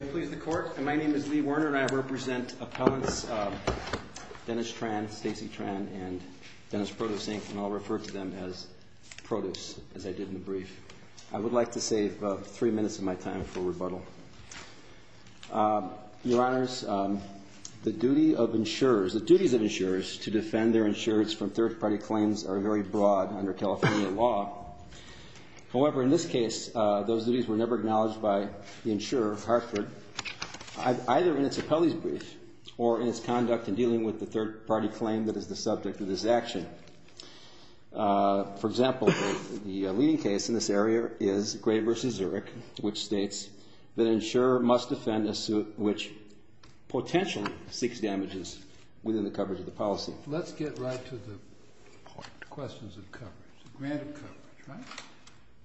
May it please the Court. My name is Lee Werner and I represent appellants Dennis Tran, Stacey Tran, and Dennis Produce, Inc., and I'll refer to them as Produce, as I did in the brief. I would like to save three minutes of my time for rebuttal. Your Honors, the duties of insurers to defend their insurers from third-party claims are very broad under California law. However, in this case, those duties were never acknowledged by the insurer, Hartford, either in its appellee's brief or in its conduct in dealing with the third-party claim that is the subject of this action. For example, the leading case in this area is Gray v. Zurich, which states that an insurer must defend a suit which potentially seeks damages within the coverage of the policy. So let's get right to the questions of coverage, granted coverage, right?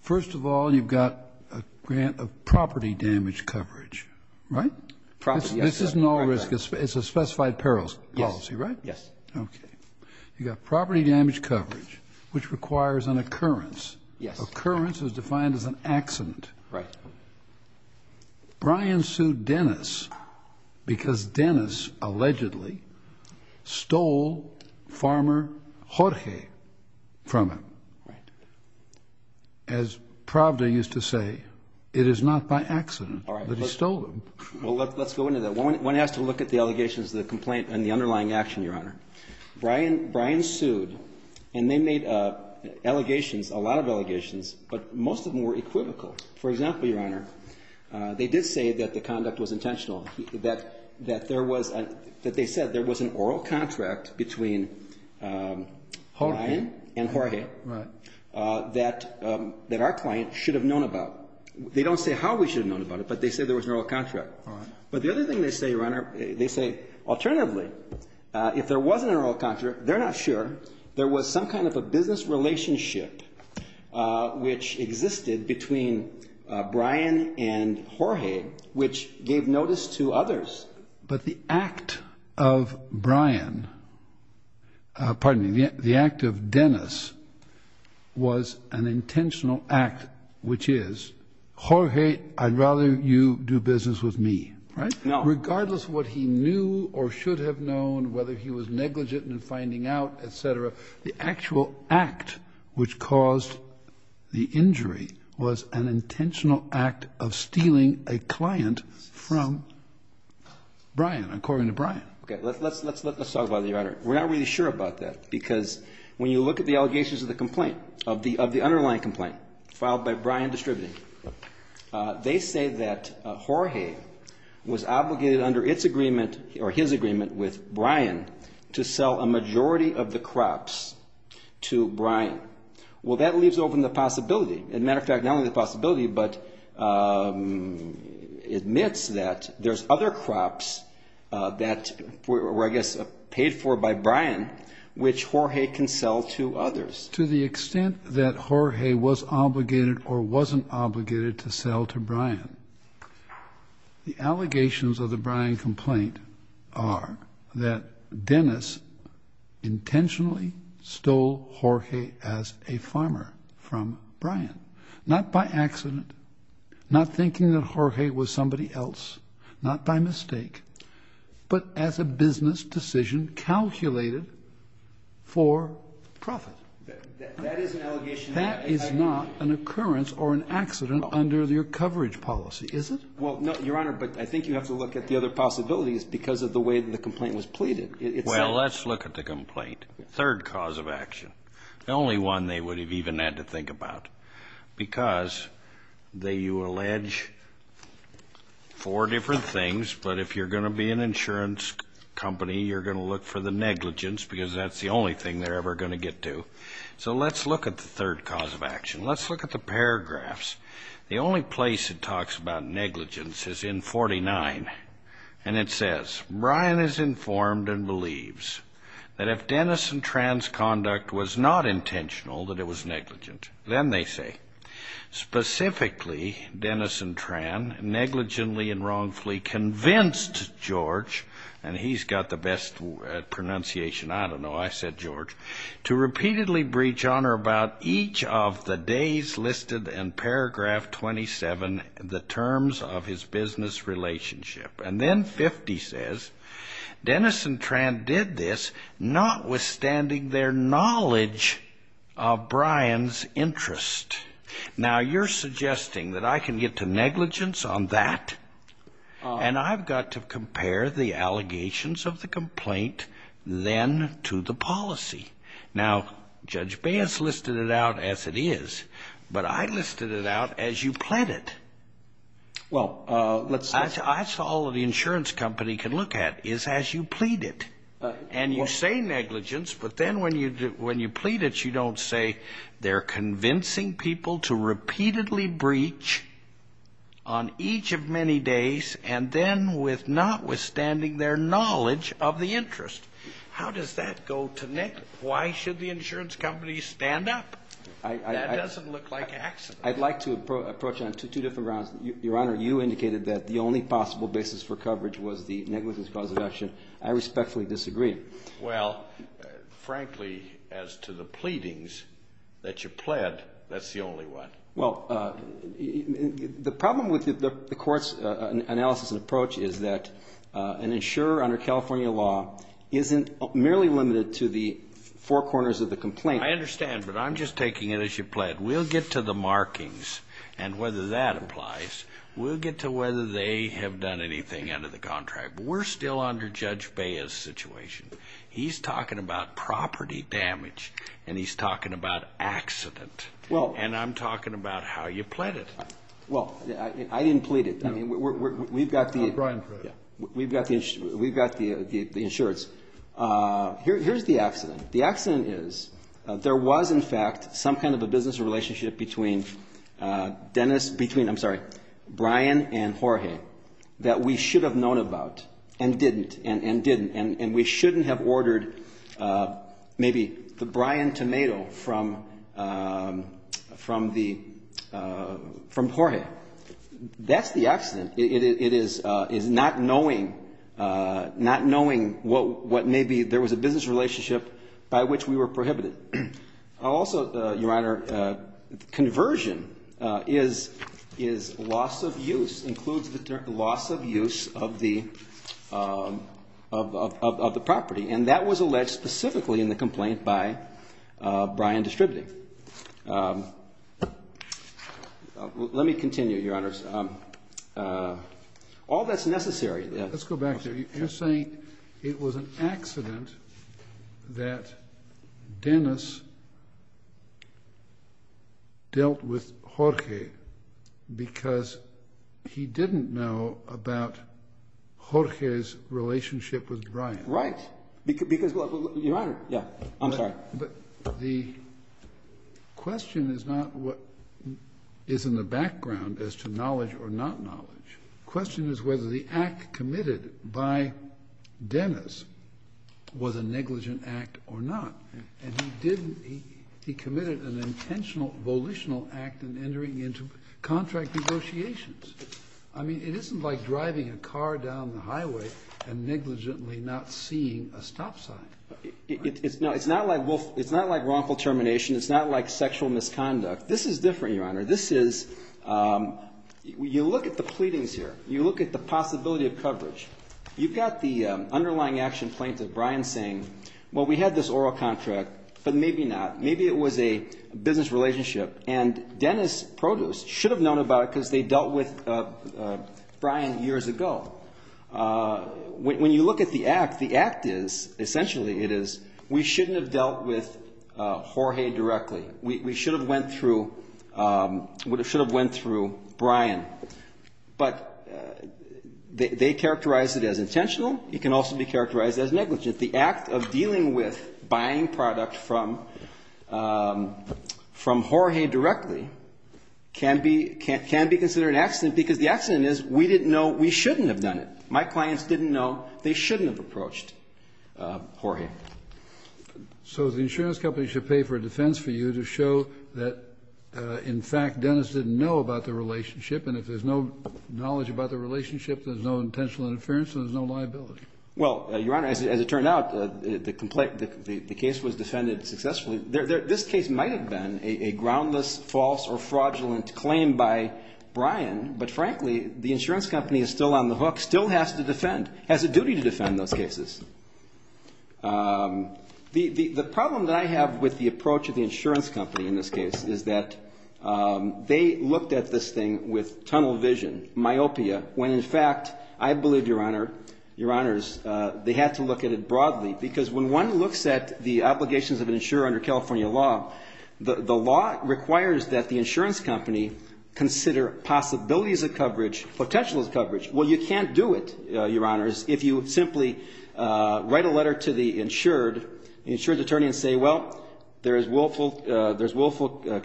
First of all, you've got a grant of property damage coverage, right? Property, yes. This is no risk. It's a specified perils policy, right? Yes. Okay. You've got property damage coverage, which requires an occurrence. Yes. Occurrence is defined as an accident. Right. Brian sued Dennis because Dennis allegedly stole Farmer Jorge from him. Right. As Pravda used to say, it is not by accident that he stole him. All right. Well, let's go into that. One has to look at the allegations of the complaint and the underlying action, Your Honor. Brian sued, and they made allegations, a lot of allegations, but most of them were equivocal. For example, Your Honor, they did say that the conduct was intentional, that there was an oral contract between Brian and Jorge. Right. That our client should have known about. They don't say how we should have known about it, but they say there was an oral contract. All right. But the other thing they say, Your Honor, they say alternatively, if there was an oral contract, they're not sure, there was some kind of a business relationship which existed between Brian and Jorge, which gave notice to others. But the act of Brian, pardon me, the act of Dennis was an intentional act, which is, Jorge, I'd rather you do business with me. Right? No. Regardless of what he knew or should have known, whether he was negligent in finding out, et cetera, the actual act which caused the injury was an intentional act of stealing a client from Brian, according to Brian. Okay. Let's talk about it, Your Honor. We're not really sure about that, because when you look at the allegations of the complaint, of the underlying complaint filed by Brian Distributing, they say that Jorge was obligated under its agreement or his agreement with Brian to sell a majority of the crops to Brian. Well, that leaves open the possibility. As a matter of fact, not only the possibility, but admits that there's other crops that were, I guess, paid for by Brian, which Jorge can sell to others. To the extent that Jorge was obligated or wasn't obligated to sell to Brian, the allegations of the Brian complaint are that Dennis intentionally stole Jorge as a farmer from Brian, not by accident, not thinking that Jorge was somebody else, not by mistake, but as a business decision calculated for profit. That is an allegation. That is not an occurrence or an accident under your coverage policy, is it? Well, no, Your Honor, but I think you have to look at the other possibilities because of the way the complaint was pleaded. Well, let's look at the complaint. Third cause of action. The only one they would have even had to think about because you allege four different things. But if you're going to be an insurance company, you're going to look for the negligence because that's the only thing they're ever going to get to. So let's look at the third cause of action. Let's look at the paragraphs. The only place it talks about negligence is in 49. And it says, And then 50 says, Now, you're suggesting that I can get to negligence on that and I've got to compare the allegations of the complaint then to the policy. Now, Judge Baez listed it out as it is, but I listed it out as you pled it. Well, let's That's all the insurance company can look at is as you plead it. And you say negligence, but then when you plead it, you don't say they're convincing people to repeatedly breach on each of many days and then with notwithstanding their knowledge of the interest. How does that go to negligence? Why should the insurance company stand up? That doesn't look like accident. I'd like to approach on two different grounds. Your Honor, you indicated that the only possible basis for coverage was the negligence cause of action. I respectfully disagree. Well, frankly, as to the pleadings that you pled, that's the only one. Well, the problem with the court's analysis and approach is that an insurer under California law isn't merely limited to the four corners of the complaint. I understand, but I'm just taking it as you pled. We'll get to the markings and whether that applies. We'll get to whether they have done anything under the contract. We're still under Judge Baez's situation. He's talking about property damage, and he's talking about accident, and I'm talking about how you pled it. Well, I didn't plead it. I mean, we've got the insurance. Here's the accident. The accident is there was, in fact, some kind of a business relationship between Dennis – between, I'm sorry, Brian and Jorge that we should have known about and didn't and didn't, and we shouldn't have ordered maybe the Brian tomato from Jorge. That's the accident. It is not knowing what maybe there was a business relationship by which we were prohibited. Also, Your Honor, conversion is loss of use, includes the loss of use of the property, and that was alleged specifically in the complaint by Brian Distributive. Let me continue, Your Honor. All that's necessary. Let's go back there. You're saying it was an accident that Dennis dealt with Jorge because he didn't know about Jorge's relationship with Brian. Right. Because, Your Honor – yeah, I'm sorry. But the question is not what is in the background as to knowledge or not knowledge. The question is whether the act committed by Dennis was a negligent act or not. And he committed an intentional, volitional act in entering into contract negotiations. I mean, it isn't like driving a car down the highway and negligently not seeing a stop sign. No, it's not like wrongful termination. It's not like sexual misconduct. This is different, Your Honor. This is – you look at the pleadings here. You look at the possibility of coverage. You've got the underlying action plaintiff, Brian, saying, well, we had this oral contract, but maybe not. Maybe it was a business relationship, and Dennis Produce should have known about it because they dealt with Brian years ago. When you look at the act, the act is – essentially it is we shouldn't have dealt with Jorge directly. We should have went through – we should have went through Brian. But they characterized it as intentional. It can also be characterized as negligent. The act of dealing with buying product from Jorge directly can be considered an accident because the accident is we didn't know we shouldn't have done it. My clients didn't know they shouldn't have approached Jorge. So the insurance company should pay for a defense for you to show that, in fact, Dennis didn't know about the relationship. And if there's no knowledge about the relationship, there's no intentional interference, and there's no liability. Well, Your Honor, as it turned out, the complaint – the case was defended successfully. This case might have been a groundless, false, or fraudulent claim by Brian, but frankly, the insurance company is still on the hook, still has to defend – has a duty to defend those cases. The problem that I have with the approach of the insurance company in this case is that they looked at this thing with tunnel vision, myopia, when, in fact, I believe, Your Honor, Your Honors, they had to look at it broadly. Because when one looks at the obligations of an insurer under California law, the law requires that the insurance company consider possibilities of coverage, potentials of coverage. Well, you can't do it, Your Honors, if you simply write a letter to the insured attorney and say, well, there's willful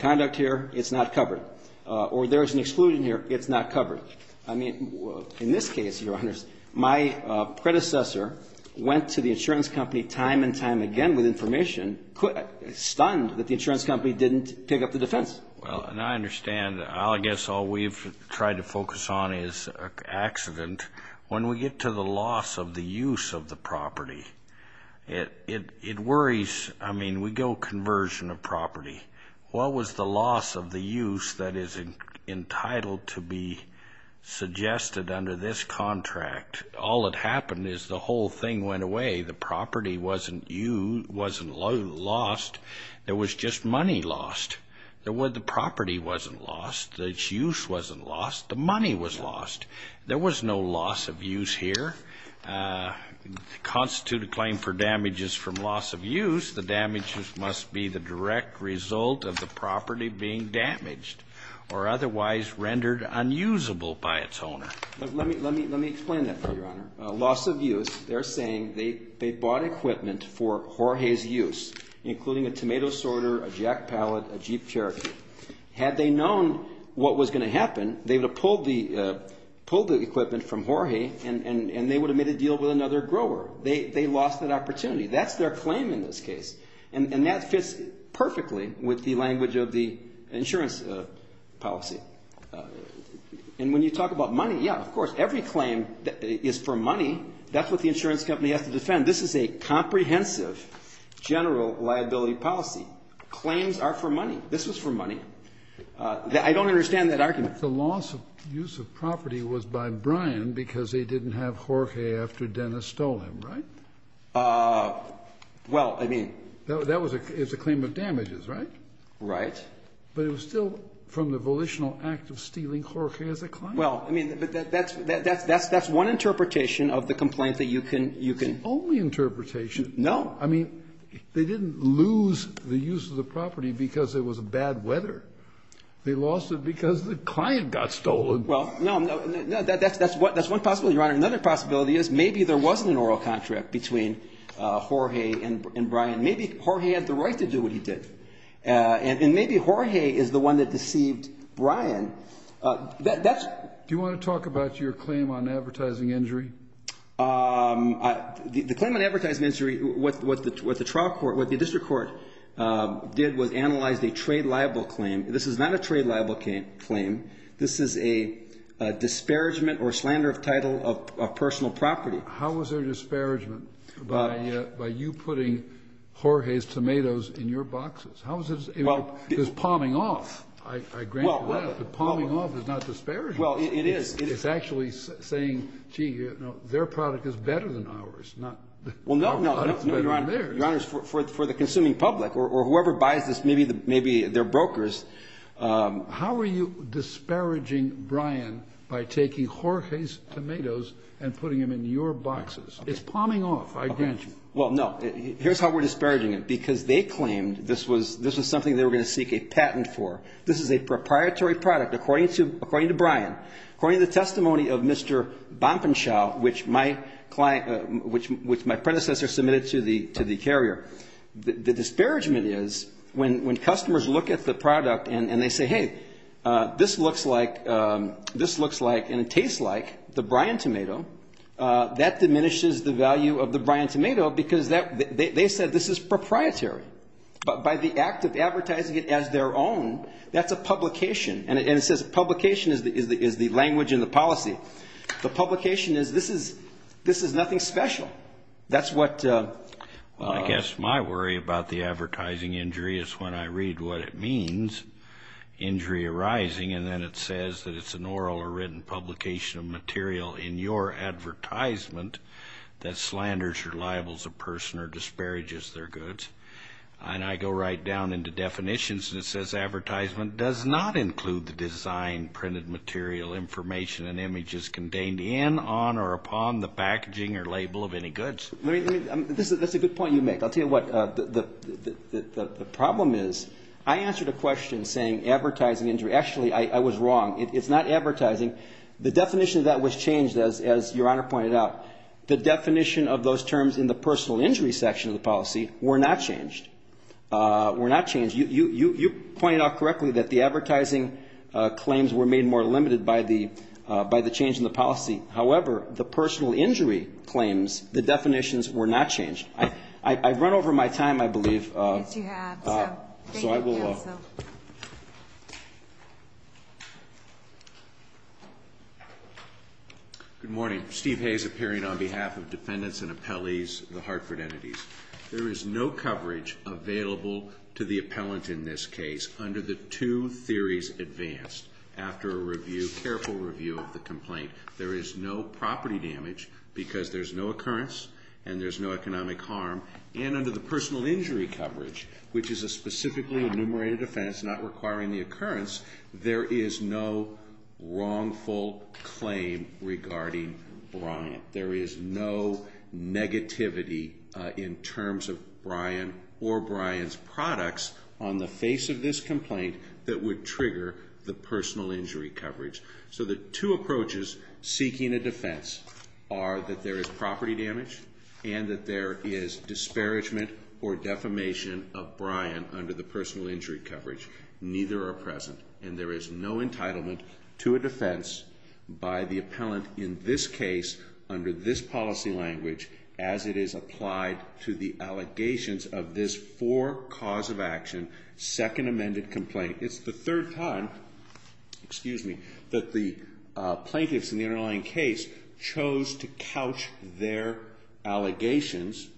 conduct here, it's not covered. Or there's an exclusion here, it's not covered. I mean, in this case, Your Honors, my predecessor went to the insurance company time and time again with information, stunned that the insurance company didn't pick up the defense. Well, and I understand – I guess all we've tried to focus on is accident. When we get to the loss of the use of the property, it worries – I mean, we go conversion of property. What was the loss of the use that is entitled to be suggested under this contract? All that happened is the whole thing went away. The property wasn't used, wasn't lost. There was just money lost. The property wasn't lost. The use wasn't lost. The money was lost. There was no loss of use here. The constituted claim for damages from loss of use, the damages must be the direct result of the property being damaged or otherwise rendered unusable by its owner. Let me explain that for you, Your Honor. Loss of use, they're saying they bought equipment for Jorge's use, including a tomato sorter, a jack pallet, a Jeep Cherokee. Had they known what was going to happen, they would have pulled the equipment from Jorge, and they would have made a deal with another grower. They lost that opportunity. That's their claim in this case, and that fits perfectly with the language of the insurance policy. And when you talk about money, yeah, of course, every claim is for money. That's what the insurance company has to defend. This is a comprehensive general liability policy. Claims are for money. This was for money. I don't understand that argument. The loss of use of property was by Brian because they didn't have Jorge after Dennis stole him, right? Well, I mean. That was a claim of damages, right? Right. But it was still from the volitional act of stealing Jorge as a client. Well, I mean, that's one interpretation of the complaint that you can... It's the only interpretation. No. I mean, they didn't lose the use of the property because it was bad weather. They lost it because the client got stolen. Well, no, that's one possibility, Your Honor. Another possibility is maybe there wasn't an oral contract between Jorge and Brian. Maybe Jorge had the right to do what he did, and maybe Jorge is the one that deceived Brian. That's... Do you want to talk about your claim on advertising injury? The claim on advertising injury, what the district court did was analyze a trade liable claim. This is not a trade liable claim. This is a disparagement or slander of title of personal property. How was there disparagement by you putting Jorge's tomatoes in your boxes? How was it? It was palming off, I grant you that. But palming off is not disparagement. Well, it is. It's actually saying, gee, their product is better than ours, not our product is better than theirs. Well, no, no, Your Honor. Your Honor, for the consuming public or whoever buys this, maybe they're brokers. How are you disparaging Brian by taking Jorge's tomatoes and putting them in your boxes? It's palming off, I grant you. Well, no. Here's how we're disparaging it. Because they claimed this was something they were going to seek a patent for. This is a proprietary product, according to Brian, according to the testimony of Mr. Bompenshaw, which my predecessor submitted to the carrier. The disparagement is when customers look at the product and they say, hey, this looks like and tastes like the Brian tomato, that diminishes the value of the Brian tomato because they said this is proprietary. But by the act of advertising it as their own, that's a publication. And it says publication is the language and the policy. The publication is this is nothing special. That's what the – Well, I guess my worry about the advertising injury is when I read what it means, injury arising, and then it says that it's an oral or written publication of material in your advertisement that slanders or libels a person or disparages their goods, and I go right down into definitions and it says advertisement does not include the design, printed material, information, and images contained in, on, or upon the packaging or label of any goods. That's a good point you make. I'll tell you what the problem is. I answered a question saying advertising injury. Actually, I was wrong. It's not advertising. The definition of that was changed, as Your Honor pointed out. The definition of those terms in the personal injury section of the policy were not changed. Were not changed. You pointed out correctly that the advertising claims were made more limited by the change in the policy. However, the personal injury claims, the definitions were not changed. I've run over my time, I believe. Yes, you have. So I will. Thank you, counsel. Good morning. Steve Hayes appearing on behalf of defendants and appellees, the Hartford entities. There is no coverage available to the appellant in this case under the two theories advanced after a review, careful review of the complaint. There is no property damage because there's no occurrence and there's no economic harm, and under the personal injury coverage, which is a specifically enumerated offense not requiring the occurrence, there is no wrongful claim regarding Bryant. There is no negativity in terms of Bryant or Bryant's products on the face of this complaint that would trigger the personal injury coverage. So the two approaches seeking a defense are that there is property damage and that there is disparagement or defamation of Bryant under the personal injury coverage. Neither are present. And there is no entitlement to a defense by the appellant in this case under this policy language as it is applied to the allegations of this four-cause-of-action second amended complaint. It's the third time that the plaintiffs in the underlying case chose to couch their allegations,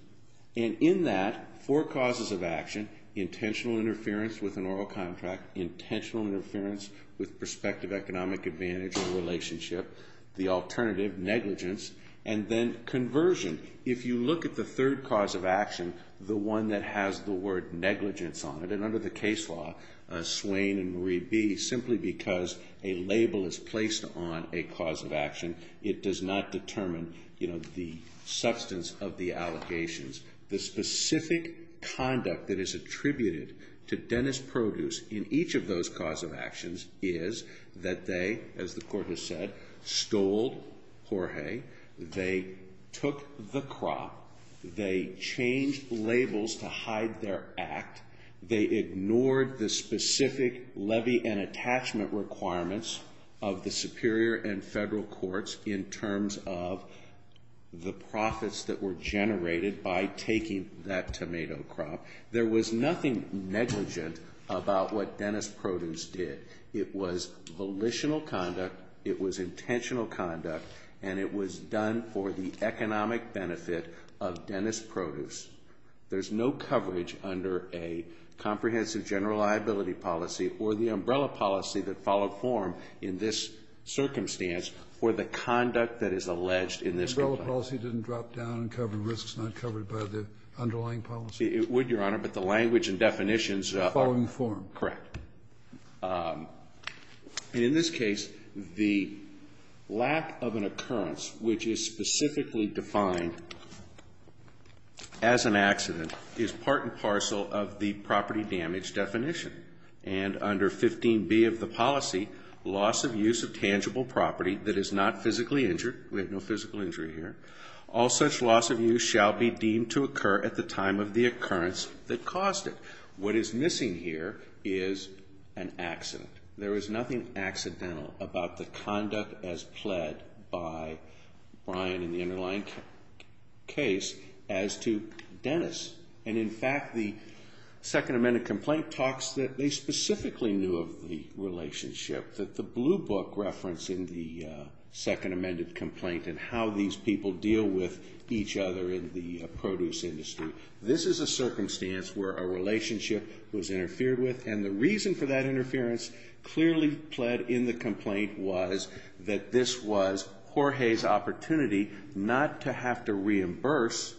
and in that, four causes of action, intentional interference with an oral contract, intentional interference with prospective economic advantage or relationship, the alternative, negligence, and then conversion. If you look at the third cause of action, the one that has the word negligence on it, and under the case law, Swain and Marie B., simply because a label is placed on a cause of action, it does not determine the substance of the allegations. The specific conduct that is attributed to Dennis Produce in each of those cause of actions is that they, as the Court has said, stole Jorge. They took the crop. They changed labels to hide their act. They ignored the specific levy and attachment requirements of the Superior and Federal Courts in terms of the profits that were generated by taking that tomato crop. There was nothing negligent about what Dennis Produce did. It was volitional conduct, it was intentional conduct, and it was done for the economic benefit of Dennis Produce. There's no coverage under a comprehensive general liability policy or the umbrella policy that followed form in this circumstance for the conduct that is alleged in this complaint. The umbrella policy didn't drop down and cover risks not covered by the underlying policy? It would, Your Honor, but the language and definitions are following form. Correct. In this case, the lack of an occurrence, which is specifically defined as an accident, is part and parcel of the property damage definition. And under 15B of the policy, loss of use of tangible property that is not physically injured, we have no physical injury here, all such loss of use shall be deemed to occur at the time of the occurrence that caused it. What is missing here is an accident. There is nothing accidental about the conduct as pled by Brian in the underlying case as to Dennis. And, in fact, the Second Amendment complaint talks that they specifically knew of the relationship, that the blue book reference in the Second Amendment complaint and how these people deal with each other in the produce industry, this is a circumstance where a relationship was interfered with, and the reason for that interference clearly pled in the complaint was that this was Jorge's opportunity not to have to reimburse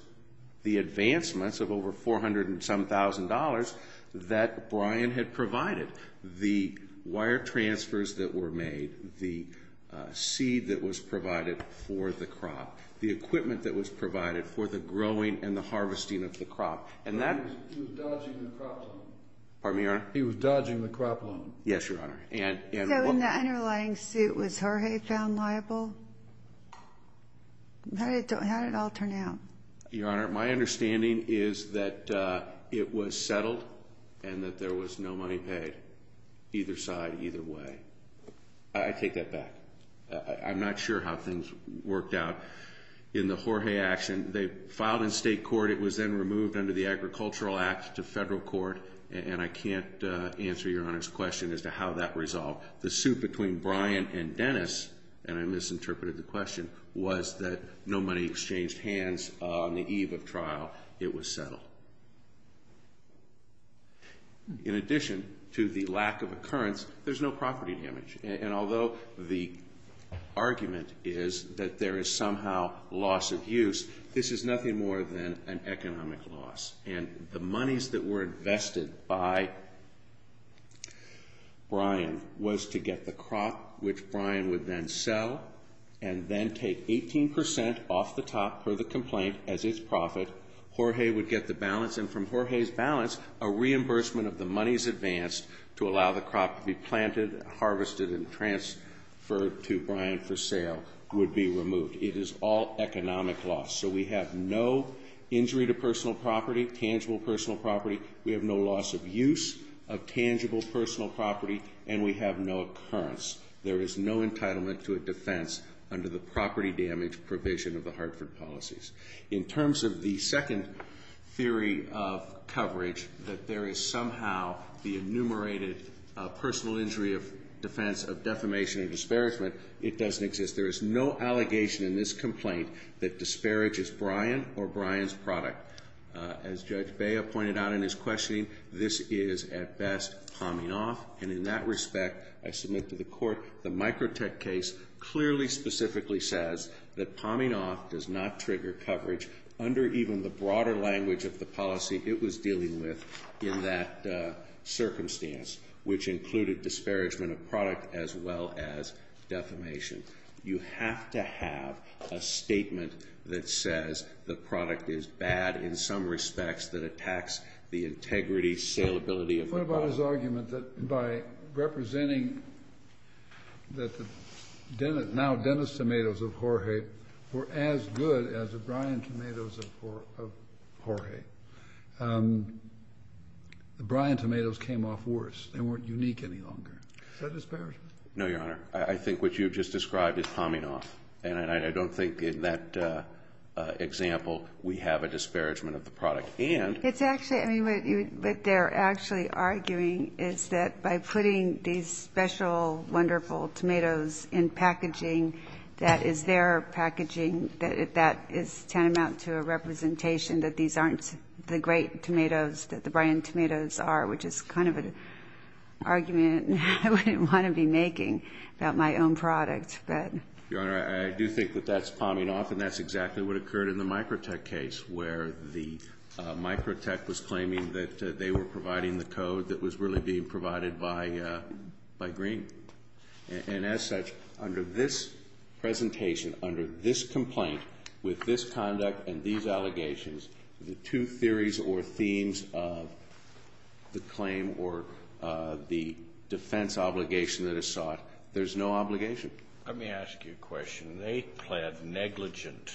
the advancements of over 400 and some thousand dollars that Brian had provided. The wire transfers that were made, the seed that was provided for the crop, the equipment that was provided for the growing and the harvesting of the crop. He was dodging the crop loan. Pardon me, Your Honor? He was dodging the crop loan. Yes, Your Honor. So in the underlying suit, was Jorge found liable? How did it all turn out? Your Honor, my understanding is that it was settled and that there was no money paid, either side, either way. I take that back. I'm not sure how things worked out in the Jorge action. They filed in state court. It was then removed under the Agricultural Act to federal court, and I can't answer Your Honor's question as to how that resolved. The suit between Brian and Dennis, and I misinterpreted the question, was that no money exchanged hands on the eve of trial. It was settled. In addition to the lack of occurrence, there's no property damage, and although the argument is that there is somehow loss of use, this is nothing more than an economic loss, and the monies that were invested by Brian was to get the crop, which Brian would then sell and then take 18% off the top for the complaint as its profit. Jorge would get the balance, and from Jorge's balance, a reimbursement of the monies advanced to allow the crop to be planted, harvested, and transferred to Brian for sale would be removed. It is all economic loss, so we have no injury to personal property, tangible personal property. We have no loss of use of tangible personal property, and we have no occurrence. There is no entitlement to a defense under the property damage provision of the Hartford policies. In terms of the second theory of coverage, that there is somehow the enumerated personal injury of defense of defamation and disparagement, it doesn't exist. There is no allegation in this complaint that disparages Brian or Brian's product. As Judge Bea pointed out in his questioning, this is, at best, palming off, and in that respect, I submit to the Court, the Microtech case clearly specifically says that palming off does not trigger coverage under even the broader language of the policy it was dealing with in that circumstance, which included disparagement of product as well as defamation. You have to have a statement that says the product is bad in some respects that attacks the integrity, saleability of the product. I support his argument that by representing that the now Dennis Tomatoes of Jorge were as good as the Brian Tomatoes of Jorge, the Brian Tomatoes came off worse. They weren't unique any longer. Is that disparagement? No, Your Honor. I think what you just described is palming off, and I don't think in that example we have a disparagement of the product. It's actually, I mean, what they're actually arguing is that by putting these special, wonderful tomatoes in packaging that is their packaging, that is tantamount to a representation that these aren't the great tomatoes that the Brian Tomatoes are, which is kind of an argument I wouldn't want to be making about my own product. Your Honor, I do think that that's palming off, and that's exactly what occurred in the Microtech case where the Microtech was claiming that they were providing the code that was really being provided by Green. And as such, under this presentation, under this complaint, with this conduct and these allegations, the two theories or themes of the claim or the defense obligation that is sought, there's no obligation. Let me ask you a question. They pled negligent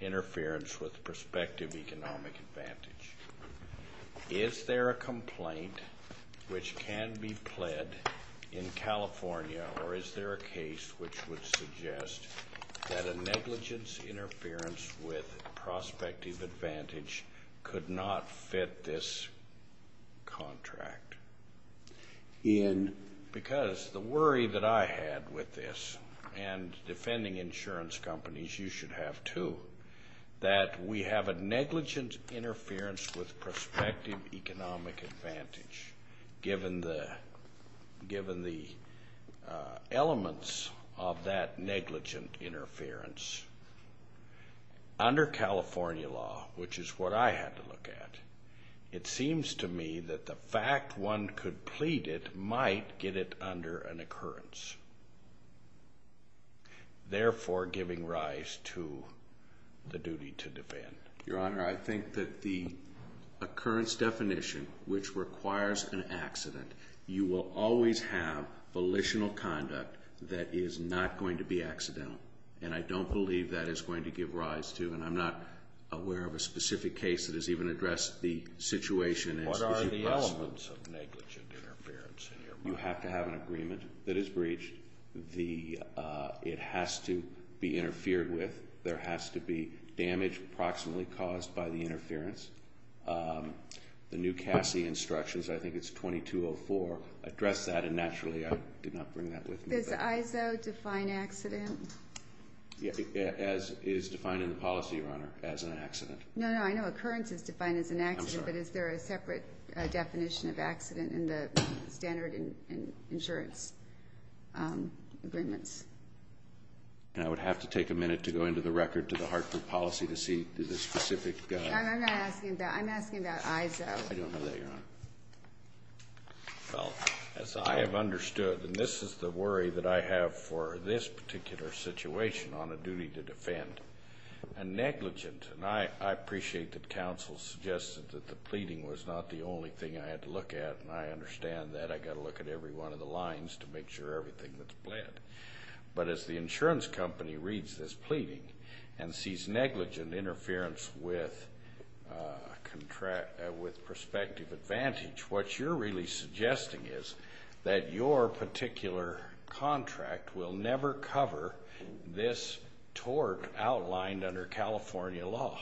interference with prospective economic advantage. Is there a complaint which can be pled in California, or is there a case which would suggest that a negligence interference with prospective advantage could not fit this contract? Because the worry that I had with this, and defending insurance companies, you should have too, that we have a negligent interference with prospective economic advantage, given the elements of that negligent interference. Under California law, which is what I had to look at, it seems to me that the fact one could plead it might get it under an occurrence, therefore giving rise to the duty to defend. Your Honor, I think that the occurrence definition, which requires an accident, you will always have volitional conduct that is not going to be accidental, and I don't believe that is going to give rise to, and I'm not aware of a specific case that has even addressed the situation. What are the elements of negligent interference in your mind? You have to have an agreement that is breached. It has to be interfered with. There has to be damage approximately caused by the interference. The new CASI instructions, I think it's 2204, address that, and naturally I did not bring that with me. Does ISO define accident? It is defined in the policy, Your Honor, as an accident. No, no, I know occurrence is defined as an accident. I'm sorry. But is there a separate definition of accident in the standard insurance agreements? I would have to take a minute to go into the record to the Hartford policy to see the specific. I'm not asking about that. I don't know that, Your Honor. Well, as I have understood, and this is the worry that I have for this particular situation on a duty to defend, a negligent, and I appreciate that counsel suggested that the pleading was not the only thing I had to look at, and I understand that. I've got to look at every one of the lines to make sure everything that's pled. But as the insurance company reads this pleading and sees negligent interference with prospective advantage, what you're really suggesting is that your particular contract will never cover this tort outlined under California law.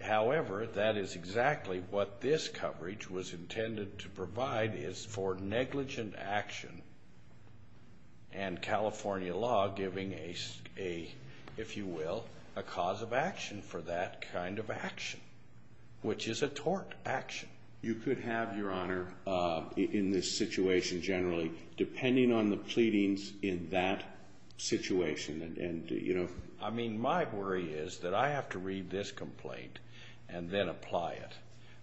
However, that is exactly what this coverage was intended to provide, is for negligent action and California law giving a, if you will, a cause of action for that kind of action, which is a tort action. You could have, Your Honor, in this situation generally, depending on the pleadings in that situation, and, you know. I mean, my worry is that I have to read this complaint and then apply it.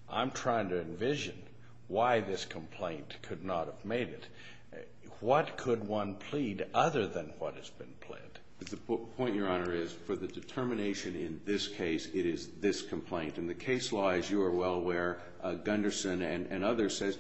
I'm trying to envision why this complaint could not have made it. What could one plead other than what has been pled? The point, Your Honor, is for the determination in this case, it is this complaint. And the case law, as you are well aware, Gunderson and others says,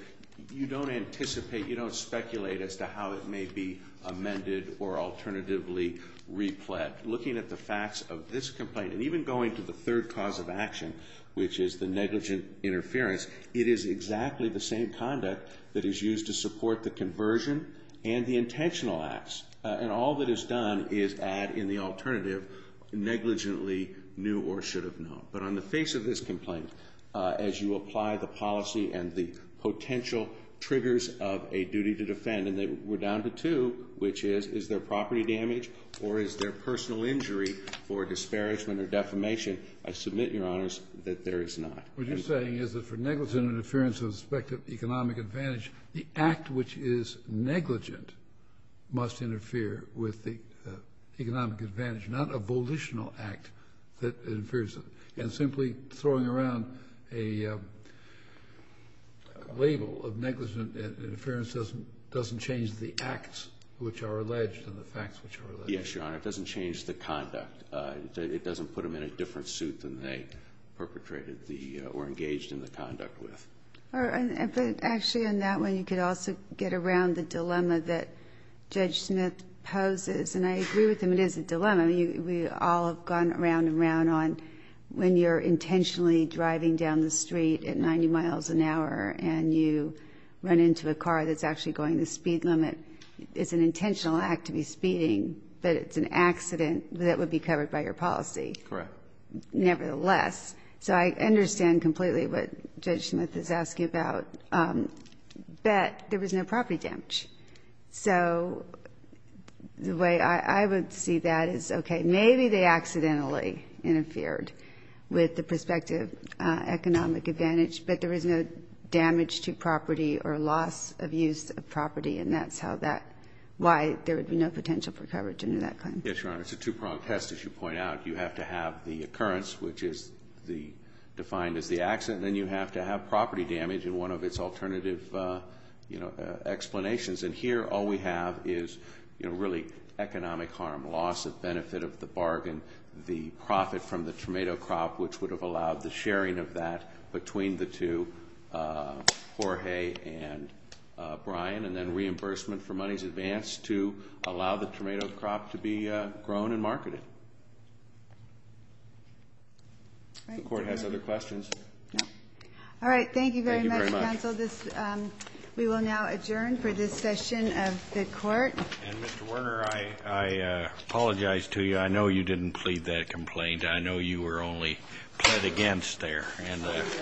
you don't anticipate, you don't speculate as to how it may be amended or alternatively repled. Looking at the facts of this complaint and even going to the third cause of action, which is the negligent interference, it is exactly the same conduct that is used to support the conversion and the intentional acts. And all that is done is add in the alternative, negligently knew or should have known. But on the face of this complaint, as you apply the policy and the potential triggers of a duty to defend, and we're down to two, which is, is there property damage or is there personal injury for disparagement or defamation? I submit, Your Honors, that there is not. What you're saying is that for negligent interference with respect to economic advantage, the act which is negligent must interfere with the economic advantage, not a volitional act that interferes. And simply throwing around a label of negligent interference doesn't change the acts which are alleged and the facts which are alleged. Yes, Your Honor. It doesn't change the conduct. It doesn't put them in a different suit than they perpetrated the or engaged in the conduct with. Actually, on that one, you could also get around the dilemma that Judge Smith poses. And I agree with him. It is a dilemma. You know, we all have gone around and round on when you're intentionally driving down the street at 90 miles an hour and you run into a car that's actually going the speed limit. It's an intentional act to be speeding, but it's an accident that would be covered by your policy. Correct. Nevertheless. So I understand completely what Judge Smith is asking about. But there was no property damage. So the way I would see that is, okay, maybe they accidentally interfered with the prospective economic advantage, but there was no damage to property or loss of use of property, and that's how that why there would be no potential for coverage under that claim. Yes, Your Honor. It's a two-pronged test, as you point out. You have to have the occurrence, which is defined as the accident, and you have to have property damage. And one of its alternative explanations. And here all we have is really economic harm, loss of benefit of the bargain, the profit from the tomato crop, which would have allowed the sharing of that between the two, Jorge and Brian, and then reimbursement for monies advanced to allow the tomato crop to be grown and marketed. If the Court has other questions. No. All right. Thank you very much, counsel. Thank you very much. We will now adjourn for this session of the Court. And, Mr. Werner, I apologize to you. I know you didn't plead that complaint. I know you were only pled against there. Can I just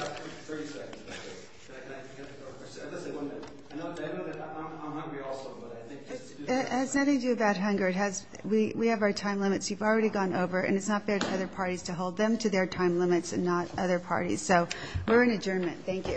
say one thing? I know that I'm hungry also, but I think just to do that. It has nothing to do about hunger. We have our time limits. You've already gone over, and it's not fair to other parties to hold them to their time limits and not other parties. So we're in adjournment. Thank you.